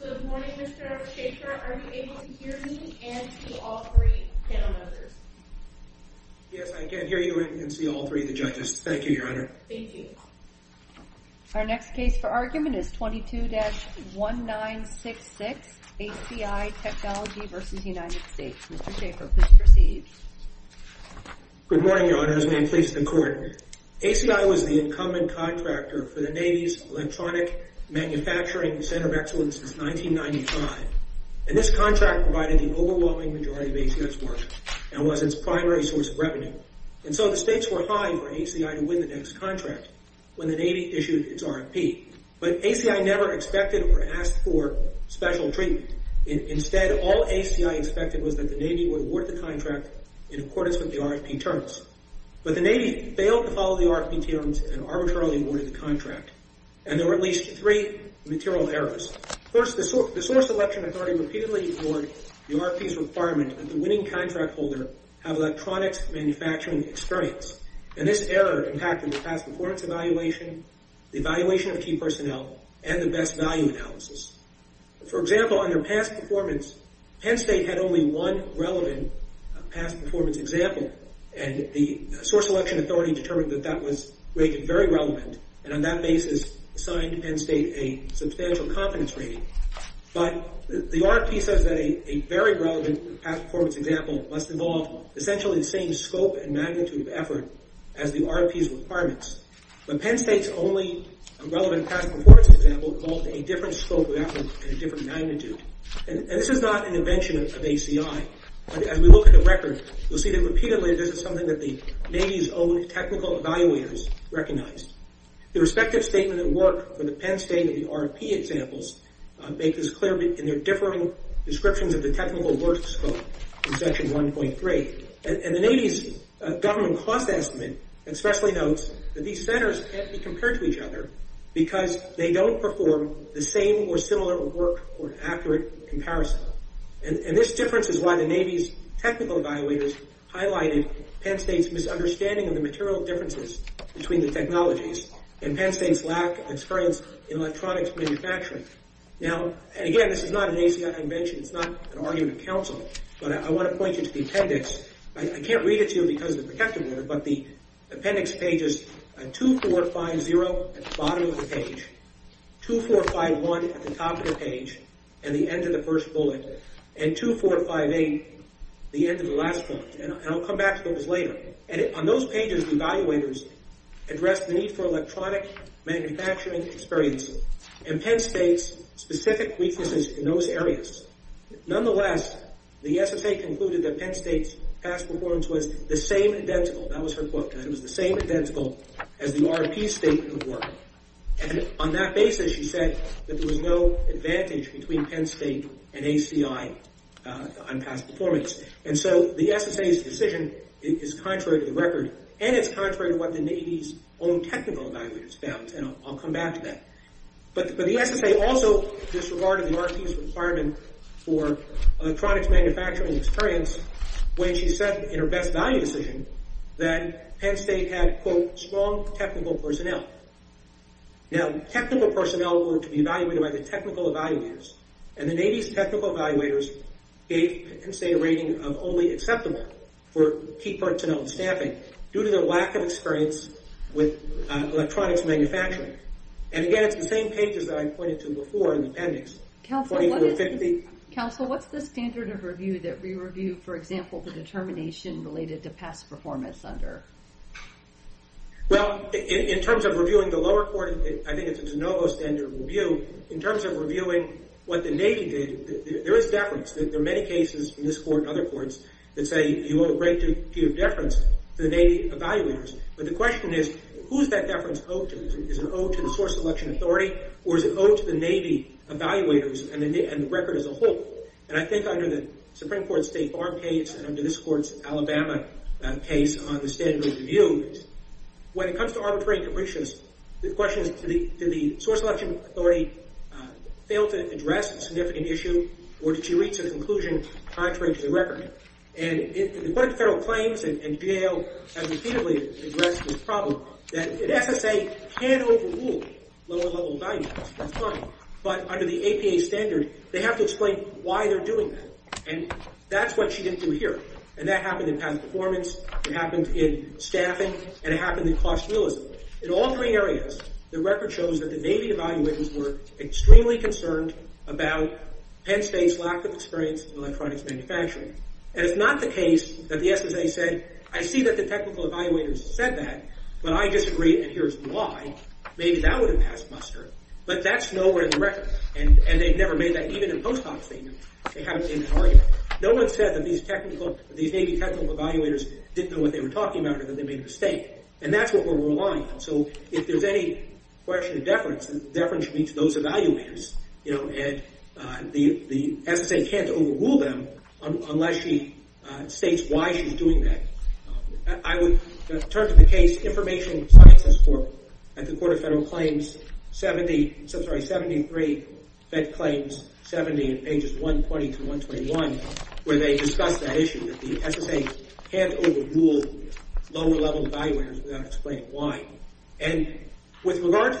Good morning, Mr. Shachar. Are you able to hear me and to all three panel members? Yes, I can hear you and see all three of the judges. Thank you, Your Honor. Thank you. Our next case for argument is 22-1966, ACI Technologies v. United States. Mr. Shachar, please proceed. Good morning, Your Honors. May it please the Court. ACI was the incumbent contractor for the Navy's Electronic Manufacturing Center of Excellence since 1995. And this contract provided the overwhelming majority of ACI's work and was its primary source of revenue. And so the stakes were high for ACI to win the next contract when the Navy issued its RFP. But ACI never expected or asked for special treatment. Instead, all ACI expected was that the Navy would award the contract in accordance with the RFP terms. But the Navy failed to follow the RFP terms and arbitrarily awarded the contract. And there were at least three material errors. First, the source election authority repeatedly ignored the RFP's requirement that the winning contract holder have electronics manufacturing experience. And this error impacted the past performance evaluation, the evaluation of key personnel, and the best value analysis. For example, under past performance, Penn State had only one relevant past performance example. And the source election authority determined that that was rated very relevant and on that basis assigned Penn State a substantial confidence rating. But the RFP says that a very relevant past performance example must involve essentially the same scope and magnitude of effort as the RFP's requirements. But Penn State's only relevant past performance example involved a different scope of effort and a different magnitude. And this is not an invention of ACI. As we look at the record, you'll see that repeatedly this is something that the Navy's own technical evaluators recognized. The respective statement of work for the Penn State and the RFP examples make this clear in their differing descriptions of the technical work scope in Section 1.3. And the Navy's government cost estimate especially notes that these centers can't be compared to each other because they don't perform the same or similar work or accurate comparison. And this difference is why the Navy's technical evaluators highlighted Penn State's misunderstanding of the material differences between the technologies and Penn State's lack of experience in electronics manufacturing. Now, and again, this is not an ACI invention, it's not an argument of counsel, but I want to point you to the appendix. I can't read it to you because of the protective order, but the appendix pages 2450 at the bottom of the page, 2451 at the top of the page and the end of the first bullet, and 2458, the end of the last bullet, and I'll come back to those later. And on those pages, the evaluators addressed the need for electronic manufacturing experience and Penn State's specific weaknesses in those areas. Nonetheless, the SSA concluded that Penn State's past performance was the same identical, that was her quote, that it was the same identical as the RFP's statement of work. And on that basis, she said that there was no advantage between Penn State and ACI on past performance. And so the SSA's decision is contrary to the record, and it's contrary to what the Navy's own technical evaluators found, and I'll come back to that. But the SSA also disregarded the RFP's requirement for electronics manufacturing experience when she said in her best value decision that Penn State had quote, strong technical personnel. Now, technical personnel were to be evaluated by the technical evaluators, and the Navy's technical evaluators gave Penn State a rating of only acceptable for key personnel and staffing due to their lack of experience with electronics manufacturing. And again, it's the same pages that I pointed to before in the appendix, 2450. Counsel, what's the standard of review that we review, for example, the determination related to past performance under? Well, in terms of reviewing the lower court, I think it's a de novo standard of review. In terms of reviewing what the Navy did, there is deference. There are many cases in this court and other courts that say you owe a great deal of deference to the Navy evaluators. But the question is, who is that deference owed to? Is it owed to the source election authority, or is it owed to the Navy evaluators and the record as a whole? And I think under the Supreme Court State Farm case and under this court's Alabama case on the standard of review, when it comes to arbitrary interpretations, the question is, did the source election authority fail to address a significant issue, or did she reach a conclusion contrary to the record? And according to federal claims, and GAO has repeatedly addressed this problem, that an SSA can't overrule lower-level evaluators, that's fine. But under the APA standard, they have to explain why they're doing that, and that's what she didn't do here. And that happened in past performance, it happened in staffing, and it happened in cost realism. In all three areas, the record shows that the Navy evaluators were extremely concerned about Penn State's lack of experience in electronics manufacturing. And it's not the case that the SSA said, I see that the technical evaluators said that, but I disagree, and here's why. Maybe that would have passed muster, but that's nowhere in the record. And they've never made that, even in post hoc statements, they haven't made that argument. No one said that these Navy technical evaluators didn't know what they were talking about or that they made a mistake. And that's what we're relying on. So if there's any question of deference, deference should be to those evaluators. And the SSA can't overrule them unless she states why she's doing that. I would turn to the case, Information Sciences Court, at the Court of Federal Claims, 70, I'm sorry, 73, Fed Claims, 70, pages 120 to 121, where they discuss that issue, that the SSA can't overrule lower level evaluators without explaining why. And with regard to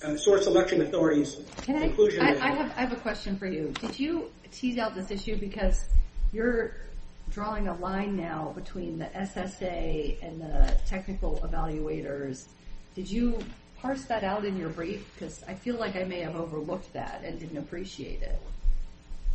the Source Election Authority's conclusion... Can I, I have a question for you. Did you tease out this issue because you're drawing a line now between the SSA and the technical evaluators. Did you parse that out in your brief? Because I feel like I may have overlooked that and didn't appreciate it.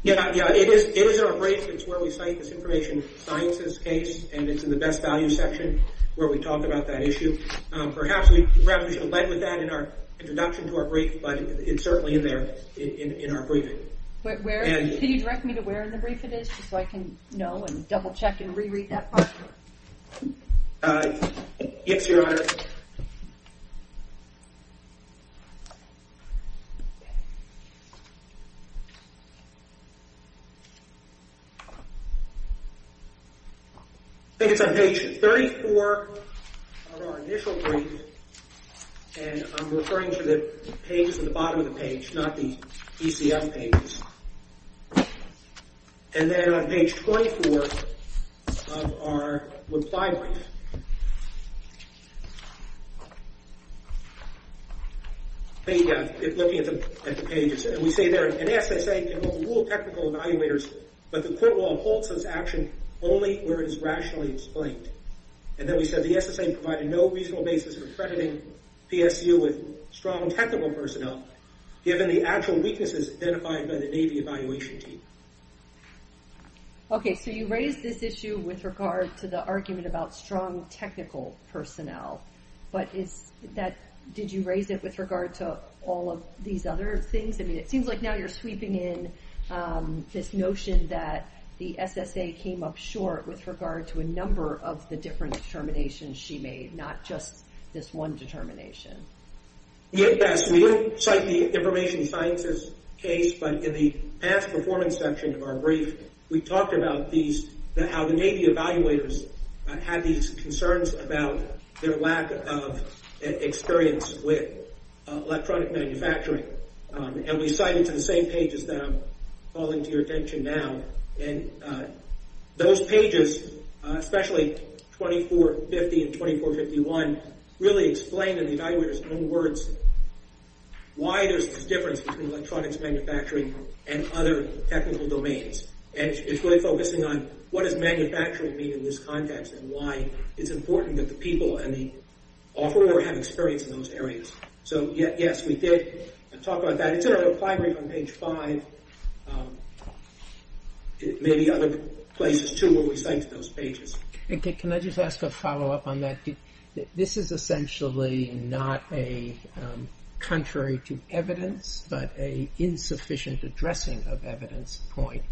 Yeah, yeah, it is in our brief. It's where we cite this Information Sciences case, and it's in the best value section where we talk about that issue. Perhaps we should have led with that in our introduction to our brief, but it's certainly in there, in our briefing. Where, can you direct me to where in the brief it is, just so I can know and double check and re-read that part? Yes, Your Honor. I think it's on page 34 of our initial brief, and I'm referring to the pages at the bottom of the page, not the ECF pages. And then on page 24 of our reply brief, looking at the pages. And we say there, an SSA can hold the rule of technical evaluators, but the court will hold such action only where it is rationally explained. And then we said the SSA provided no reasonable basis for accrediting PSU with strong technical personnel, given the actual weaknesses identified by the Navy evaluation team. Okay, so you raised this issue with regard to the argument about strong technical personnel, but did you raise it with regard to all of these other things? I mean, it seems like now you're sweeping in this notion that the SSA came up short with regard to a number of the different determinations she made, not just this one determination. Yes, we do cite the information sciences case, but in the past performance section of our brief, we talked about how the Navy evaluators had these concerns about their lack of experience with electronic manufacturing. And we cite it to the same pages that I'm calling to your attention now. And those pages, especially 2450 and 2451, really explain in the evaluators' own words why there's this difference between electronics manufacturing and other technical domains. And it's really focusing on what does manufacturing mean in this context and why it's important that the people and the offeror have experience in those areas. So, yes, we did talk about that. And it's in our reply brief on page five. Maybe other places, too, where we cite those pages. Can I just ask a follow-up on that? This is essentially not a contrary to evidence, but a insufficient addressing of evidence point.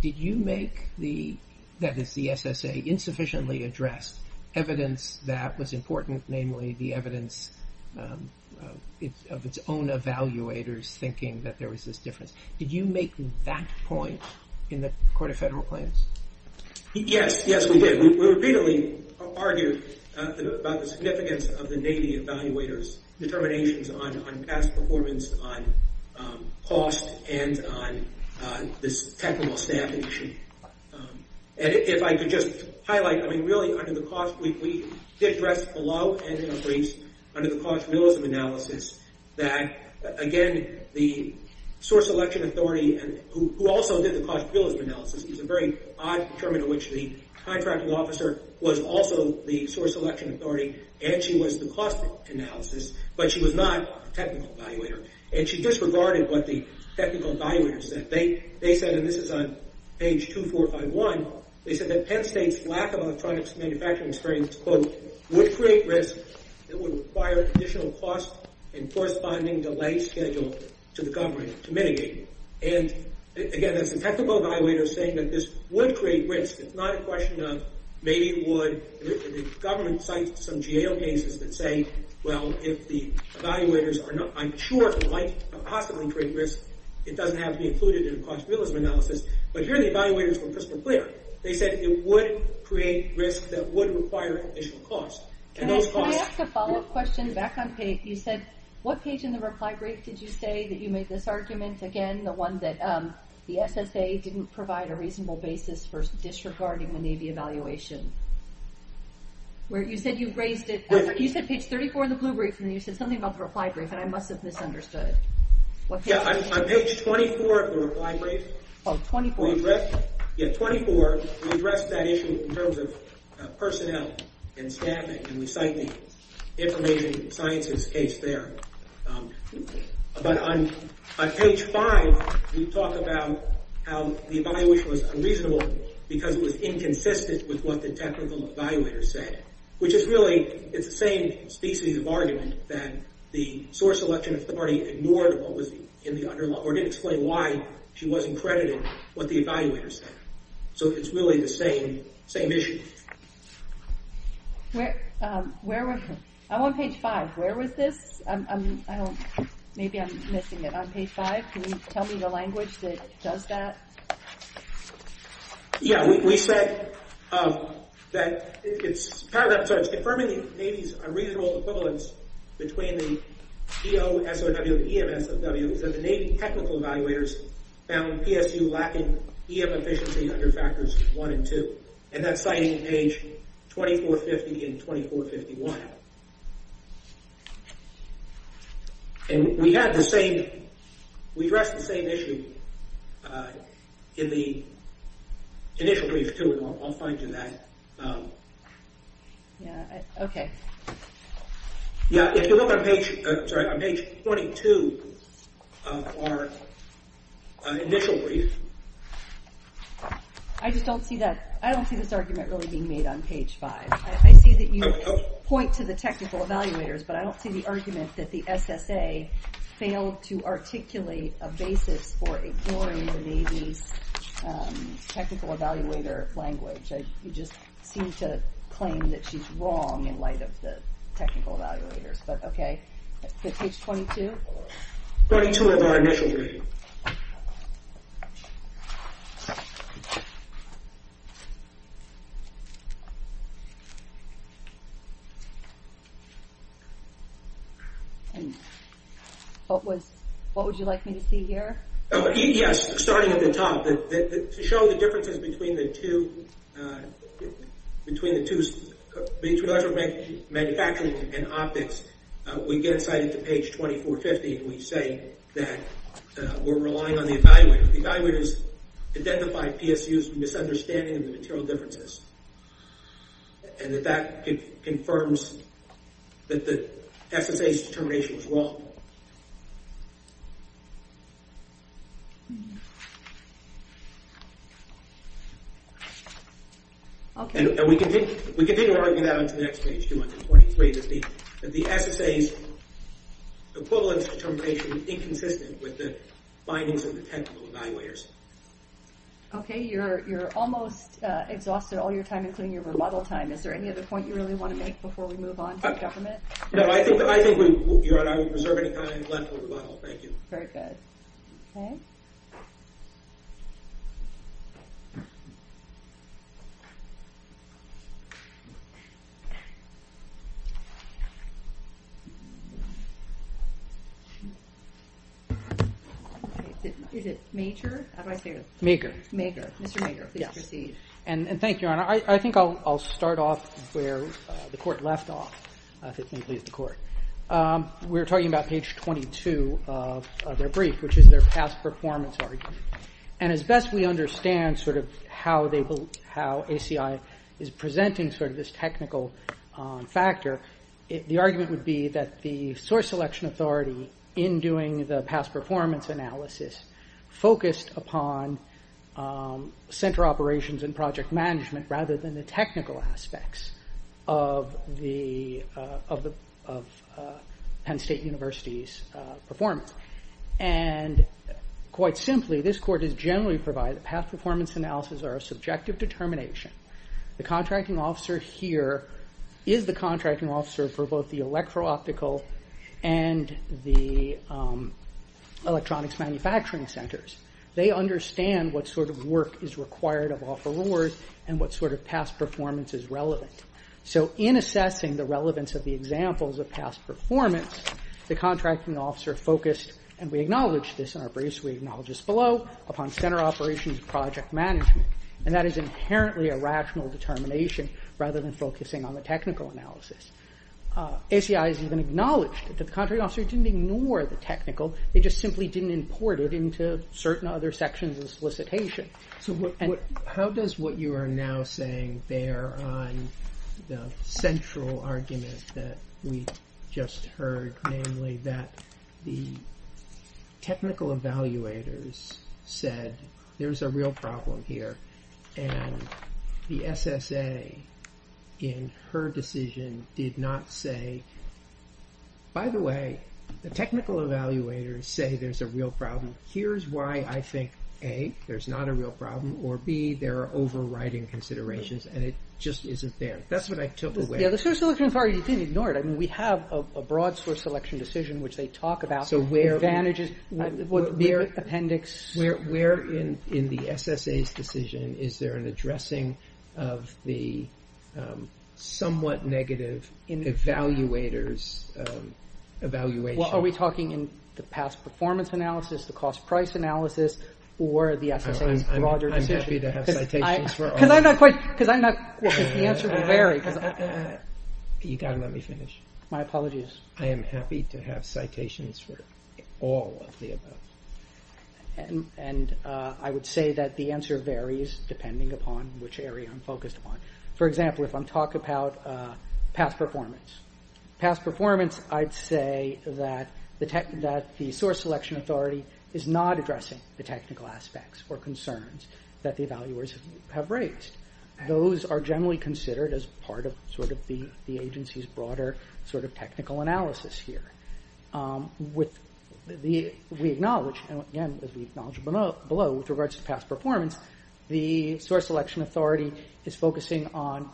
Did you make the, that is the SSA, insufficiently addressed evidence that was important, namely the evidence of its own evaluators indicating that there was this difference? Did you make that point in the Court of Federal Claims? Yes, yes, we did. We repeatedly argued about the significance of the Navy evaluators' determinations on past performance, on cost, and on this technical staffing issue. And if I could just highlight, I mean, really under the cost, we did address below and in our briefs under the cost realism analysis that, again, the source election authority, who also did the cost realism analysis, it was a very odd term in which the contracting officer was also the source election authority and she was the cost analysis, but she was not a technical evaluator. And she disregarded what the technical evaluators said. They said, and this is on page 2451, they said that Penn State's lack of electronics manufacturing experience, quote, would create risk that would require additional cost and corresponding delay scheduled to the government to mitigate. And, again, there's some technical evaluators saying that this would create risk. It's not a question of maybe it would. The government cites some GAO cases that say, well, if the evaluators are not I'm sure it might possibly create risk. It doesn't have to be included in a cost realism analysis. But here the evaluators were crystal clear. They said it would create additional cost. And those costs... Can I ask a follow-up question? Back on page, you said, what page in the reply brief did you say that you made this argument, again, the one that the SSA didn't provide a reasonable basis for disregarding the Navy evaluation? You said page 34 in the blue brief and you said something about the reply brief and I must have misunderstood. And we cite the information sciences case there. But on page 5 you talk about how the evaluation was unreasonable because it was inconsistent with what the technical evaluators said. Which is really, it's the same species of argument that the source election authority ignored what was in the underline or didn't explain why she wasn't credited with what the evaluators said. So it's really the same issue. I'm on page 5. Where was this? Maybe I'm missing it. On page 5, can you tell me the language that does that? Yeah, we said that it's confirming the Navy's unreasonable equivalence between the EOSOW and EMSOW that the Navy technical evaluators found PSU lacking EM efficiency under factors 1 and 2. That's what we did in 2451. And we had the same we addressed the same issue in the initial brief too and I'll find you that. Yeah, okay. Yeah, if you look on page 22 of our initial brief I just don't see that I don't see this argument really being made on page 5. I see that you point to the technical evaluators but I don't see the argument that the SSA failed to articulate a basis for ignoring the Navy's technical evaluator language. You just seem to claim that she's wrong in light of the technical evaluators but okay. Page 22? And what was what would you like me to see here? Yes, starting at the top to show the differences between the two between the two manufacturing and optics we get inside to page 2450 and we say that we're relying on the evaluators. The evaluators identified PSU's misunderstanding of the material differences and it confirms that the SSA's determination was wrong. Okay. And we continue to argue that on page 223 that the SSA's equivalence determination is inconsistent with the findings of the technical evaluators. Okay, you're almost exhausted all your time including your remodel time. Is there anything else you want to make before we move on to government? No, I think, Your Honor, I will preserve any time left for remodel. Thank you. Very good. Is it Major? Major. Mr. Major, please proceed. Thank you, Your Honor. I think I'll start off where the Court left off if it may please the Court. We're talking about page 22 of their brief which is their past performance argument and as best we understand how ACI is presenting this technical factor the argument would be that the source selection authority in doing the past performance analysis focused upon the project management rather than the technical aspects of Penn State University's performance. And quite simply this Court has generally provided that past performance analysis are a subjective determination. The contracting officer here is the contracting officer for both the electro-optical and the electronics manufacturing centers. They understand what sort of work requires and what sort of past performance is relevant. So in assessing the relevance of the examples of past performance the contracting officer focused and we acknowledge this in our briefs we acknowledge this below upon center operations project management and that is inherently a rational determination rather than focusing on the technical analysis. ACI has even acknowledged that the contracting officer didn't ignore the technical and what you are now saying there on the central argument that we just heard namely that the technical evaluators said there's a real problem here and the SSA in her decision did not say by the way the technical evaluators say there's a real problem here's why I think A there's not a real problem and I'm not providing considerations and it just isn't there. That's what I took away. The source selection authority didn't ignore it we have a broad source selection decision which they talk about where in the SSA's decision is there an addressing of the somewhat negative evaluators evaluation. Are we talking in the past performance analysis the cost price analysis because I'm not quite you got to let me finish my apologies I am happy to have citations for all of the above and I would say that the answer varies depending upon which area I'm focused on for example if I'm talking about past performance I'd say that the source selection authority is not addressing the technical aspects those are generally considered as part of sort of the agency's broader sort of technical analysis here with we acknowledge below with regards to past performance the source selection authority is focusing on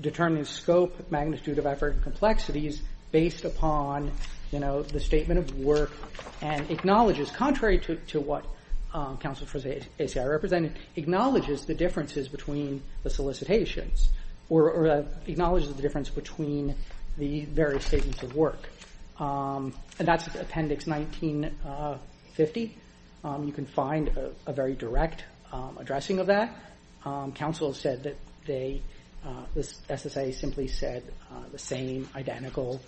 determining scope magnitude of effort and complexities based upon the statement of work and acknowledges contrary to what counsel for ACI represented between the solicitations or acknowledges the difference between the various statements of work and that's appendix 1950 you can find a very direct addressing of that counsel said that the SSA simply said the same identical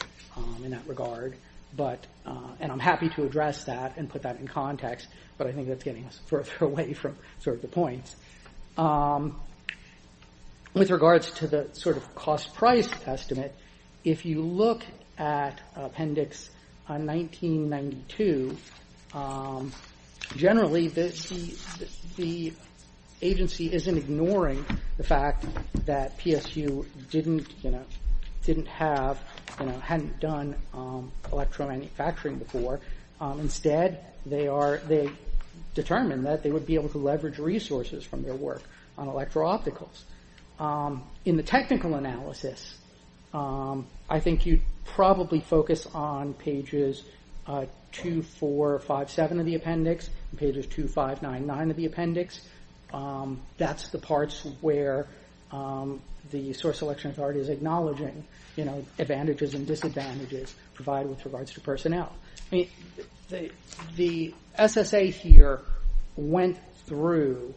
in that regard and I'm happy to address that and put that in context but I think that's getting us further away with regards to the sort of cost price estimate if you look at appendix 1992 generally the agency isn't ignoring the fact that PSU didn't didn't have hadn't done electro manufacturing before instead they are looking for opticals in the technical analysis I think you probably focus on pages 2457 of the appendix pages 2599 of the appendix that's the parts where the source selection authority is acknowledging advantages and disadvantages provided with regards to personnel the SSA here went through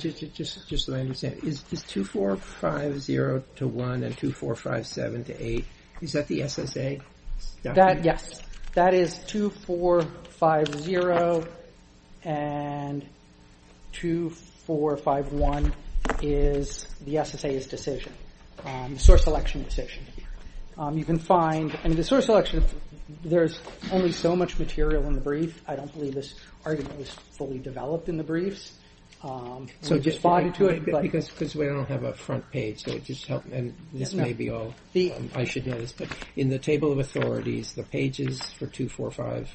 just so I understand is 2450-1 and 2457-8 is that the SSA? yes that is 2450 and 2451 is the SSA's decision source selection decision you can find the source selection there's only so much material because we don't have a front page I should know this but in the table of authorities the pages for 245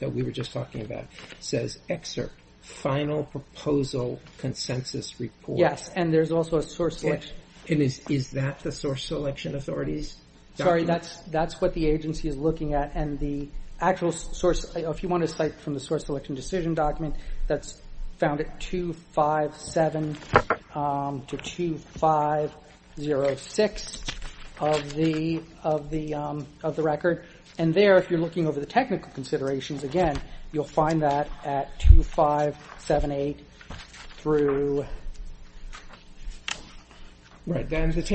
that we were just talking about says excerpt final proposal consensus report is that the source selection authorities? sorry that's what the agency is looking at 2457 to 2506 of the record and there if you're looking over the technical considerations again you'll find that at 2578 through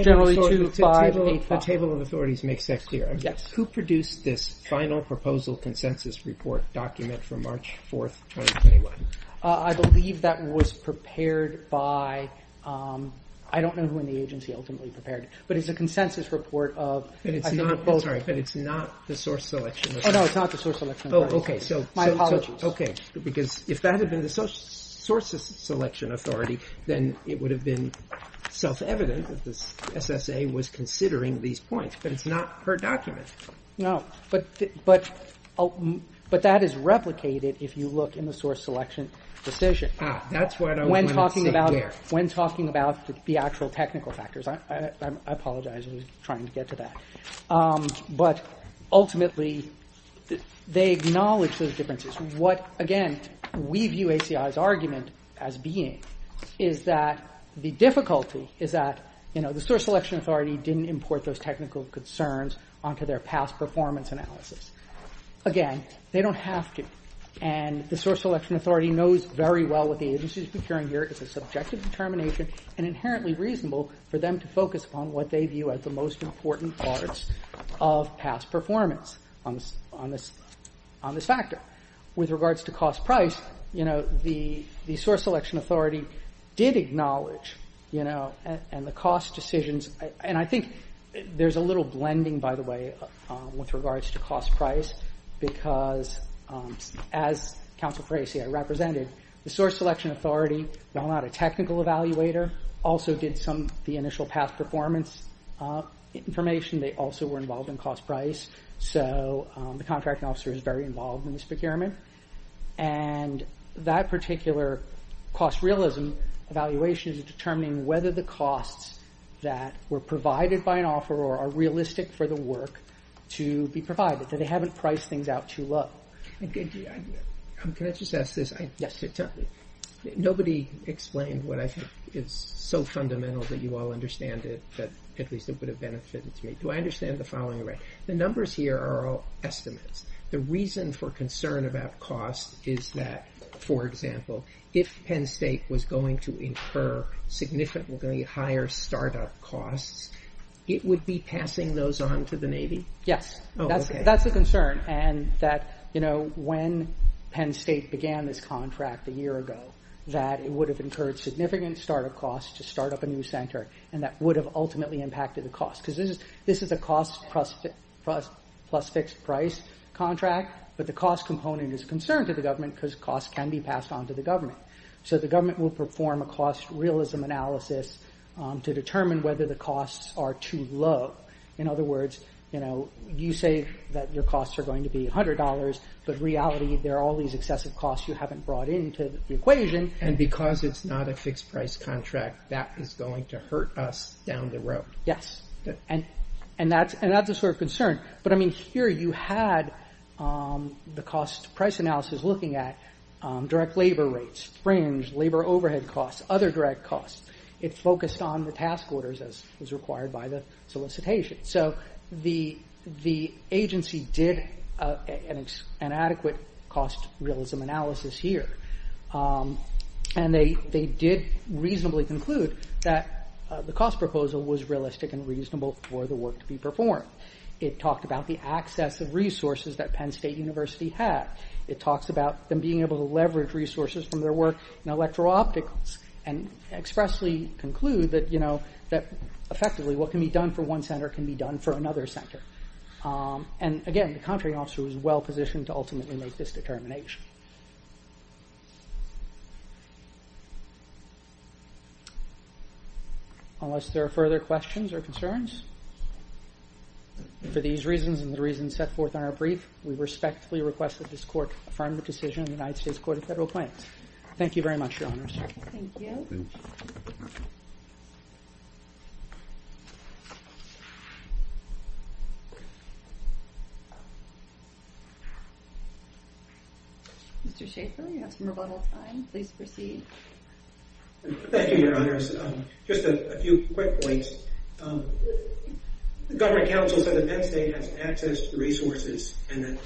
generally 2585 the table of authorities makes that clear who produced this final proposal consensus report document for March 4th 2021 by I don't know who in the agency ultimately prepared it but it's a consensus report but it's not the source selection authority my apologies if that had been the source selection authority then it would have been self evident that the SSA was considering these points but it's not her document no but that is replicated if you look in the source selection decision where when talking about the actual technical factors I apologize I was trying to get to that but ultimately they acknowledge those differences what again we view ACI's argument as being is that the difficulty is that the source selection authority didn't import those technical concerns onto their past performance analysis again they don't have to it's a question of determination and inherently reasonable for them to focus on what they view as the most important parts of past performance on this factor with regards to cost price the source selection authority did acknowledge and the cost decisions and I think there's a little blending with regards to cost price the actual evaluator also did some of the initial past performance information they also were involved in cost price so the contracting officer is very involved in this procurement and that particular cost realism evaluation is determining whether the costs that were provided by an offeror are realistic for the work to be provided they haven't priced things out too low and I think it's so fundamental that you all understand it that at least it would have benefited me do I understand the following right the numbers here are all estimates the reason for concern about cost is that for example if Penn State was going to incur significantly higher startup costs it would be passing those on to the Navy yes that's a concern and that you know when Penn State didn't start a cost to start up a new center and that would have ultimately impacted the cost because this is a cost plus fixed price contract but the cost component is a concern to the government because costs can be passed on to the government so the government will perform a cost realism analysis to determine whether the costs of this contract that is going to hurt us down the road yes and that's a sort of concern but I mean here you had the cost price analysis looking at direct labor rates fringe labor overhead costs other direct costs it focused on the task orders as required by the solicitation so the agency did an adequate cost realism analysis here to reasonably conclude that the cost proposal was realistic and reasonable for the work to be performed it talked about the access of resources that Penn State University had it talks about them being able to leverage resources from their work in electro-opticals and expressly conclude unless there are further questions or concerns for these reasons and the reasons set forth in our brief we respectfully request that this court affirm the decision of the United States Court of Federal Appointments thank you very much your honors thank you your honors just a few quick points the government counsel said that Penn State has access to resources and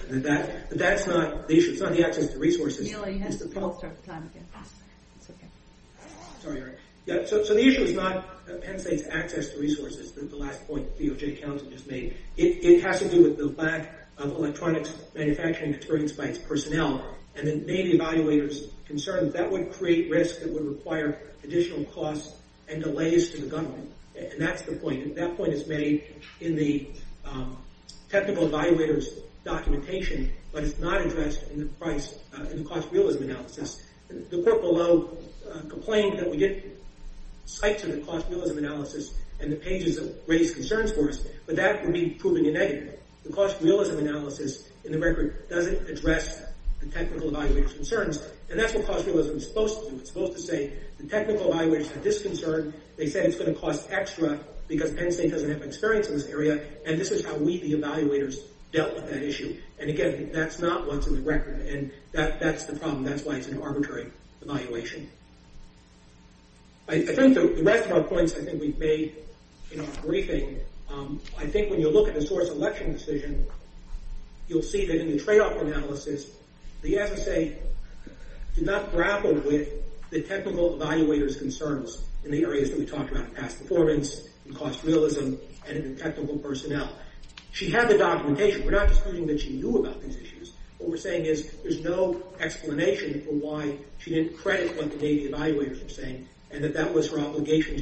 that's not the issue is not Penn State's access to resources it has to do with the lack of electronics manufacturing experience by its personnel and the cost and delays to the government and that's the point that point is made in the technical evaluators documentation but it's not addressed in the cost realism analysis the court below complained that we didn't cite to the cost realism analysis and the pages of this concern they said it's going to cost extra because Penn State doesn't have experience in this area and this is how we the evaluators dealt with that issue and again that's not what's in the record and that's the problem that's why it's an arbitrary evaluation I think the rest of our points I think we've made in our briefing in the areas that we talked about past performance, cost realism and technical personnel she had the documentation we're not disputing that she knew about these issues what we're saying is there's no explanation for why she didn't credit what the Navy evaluators were saying and that was her obligation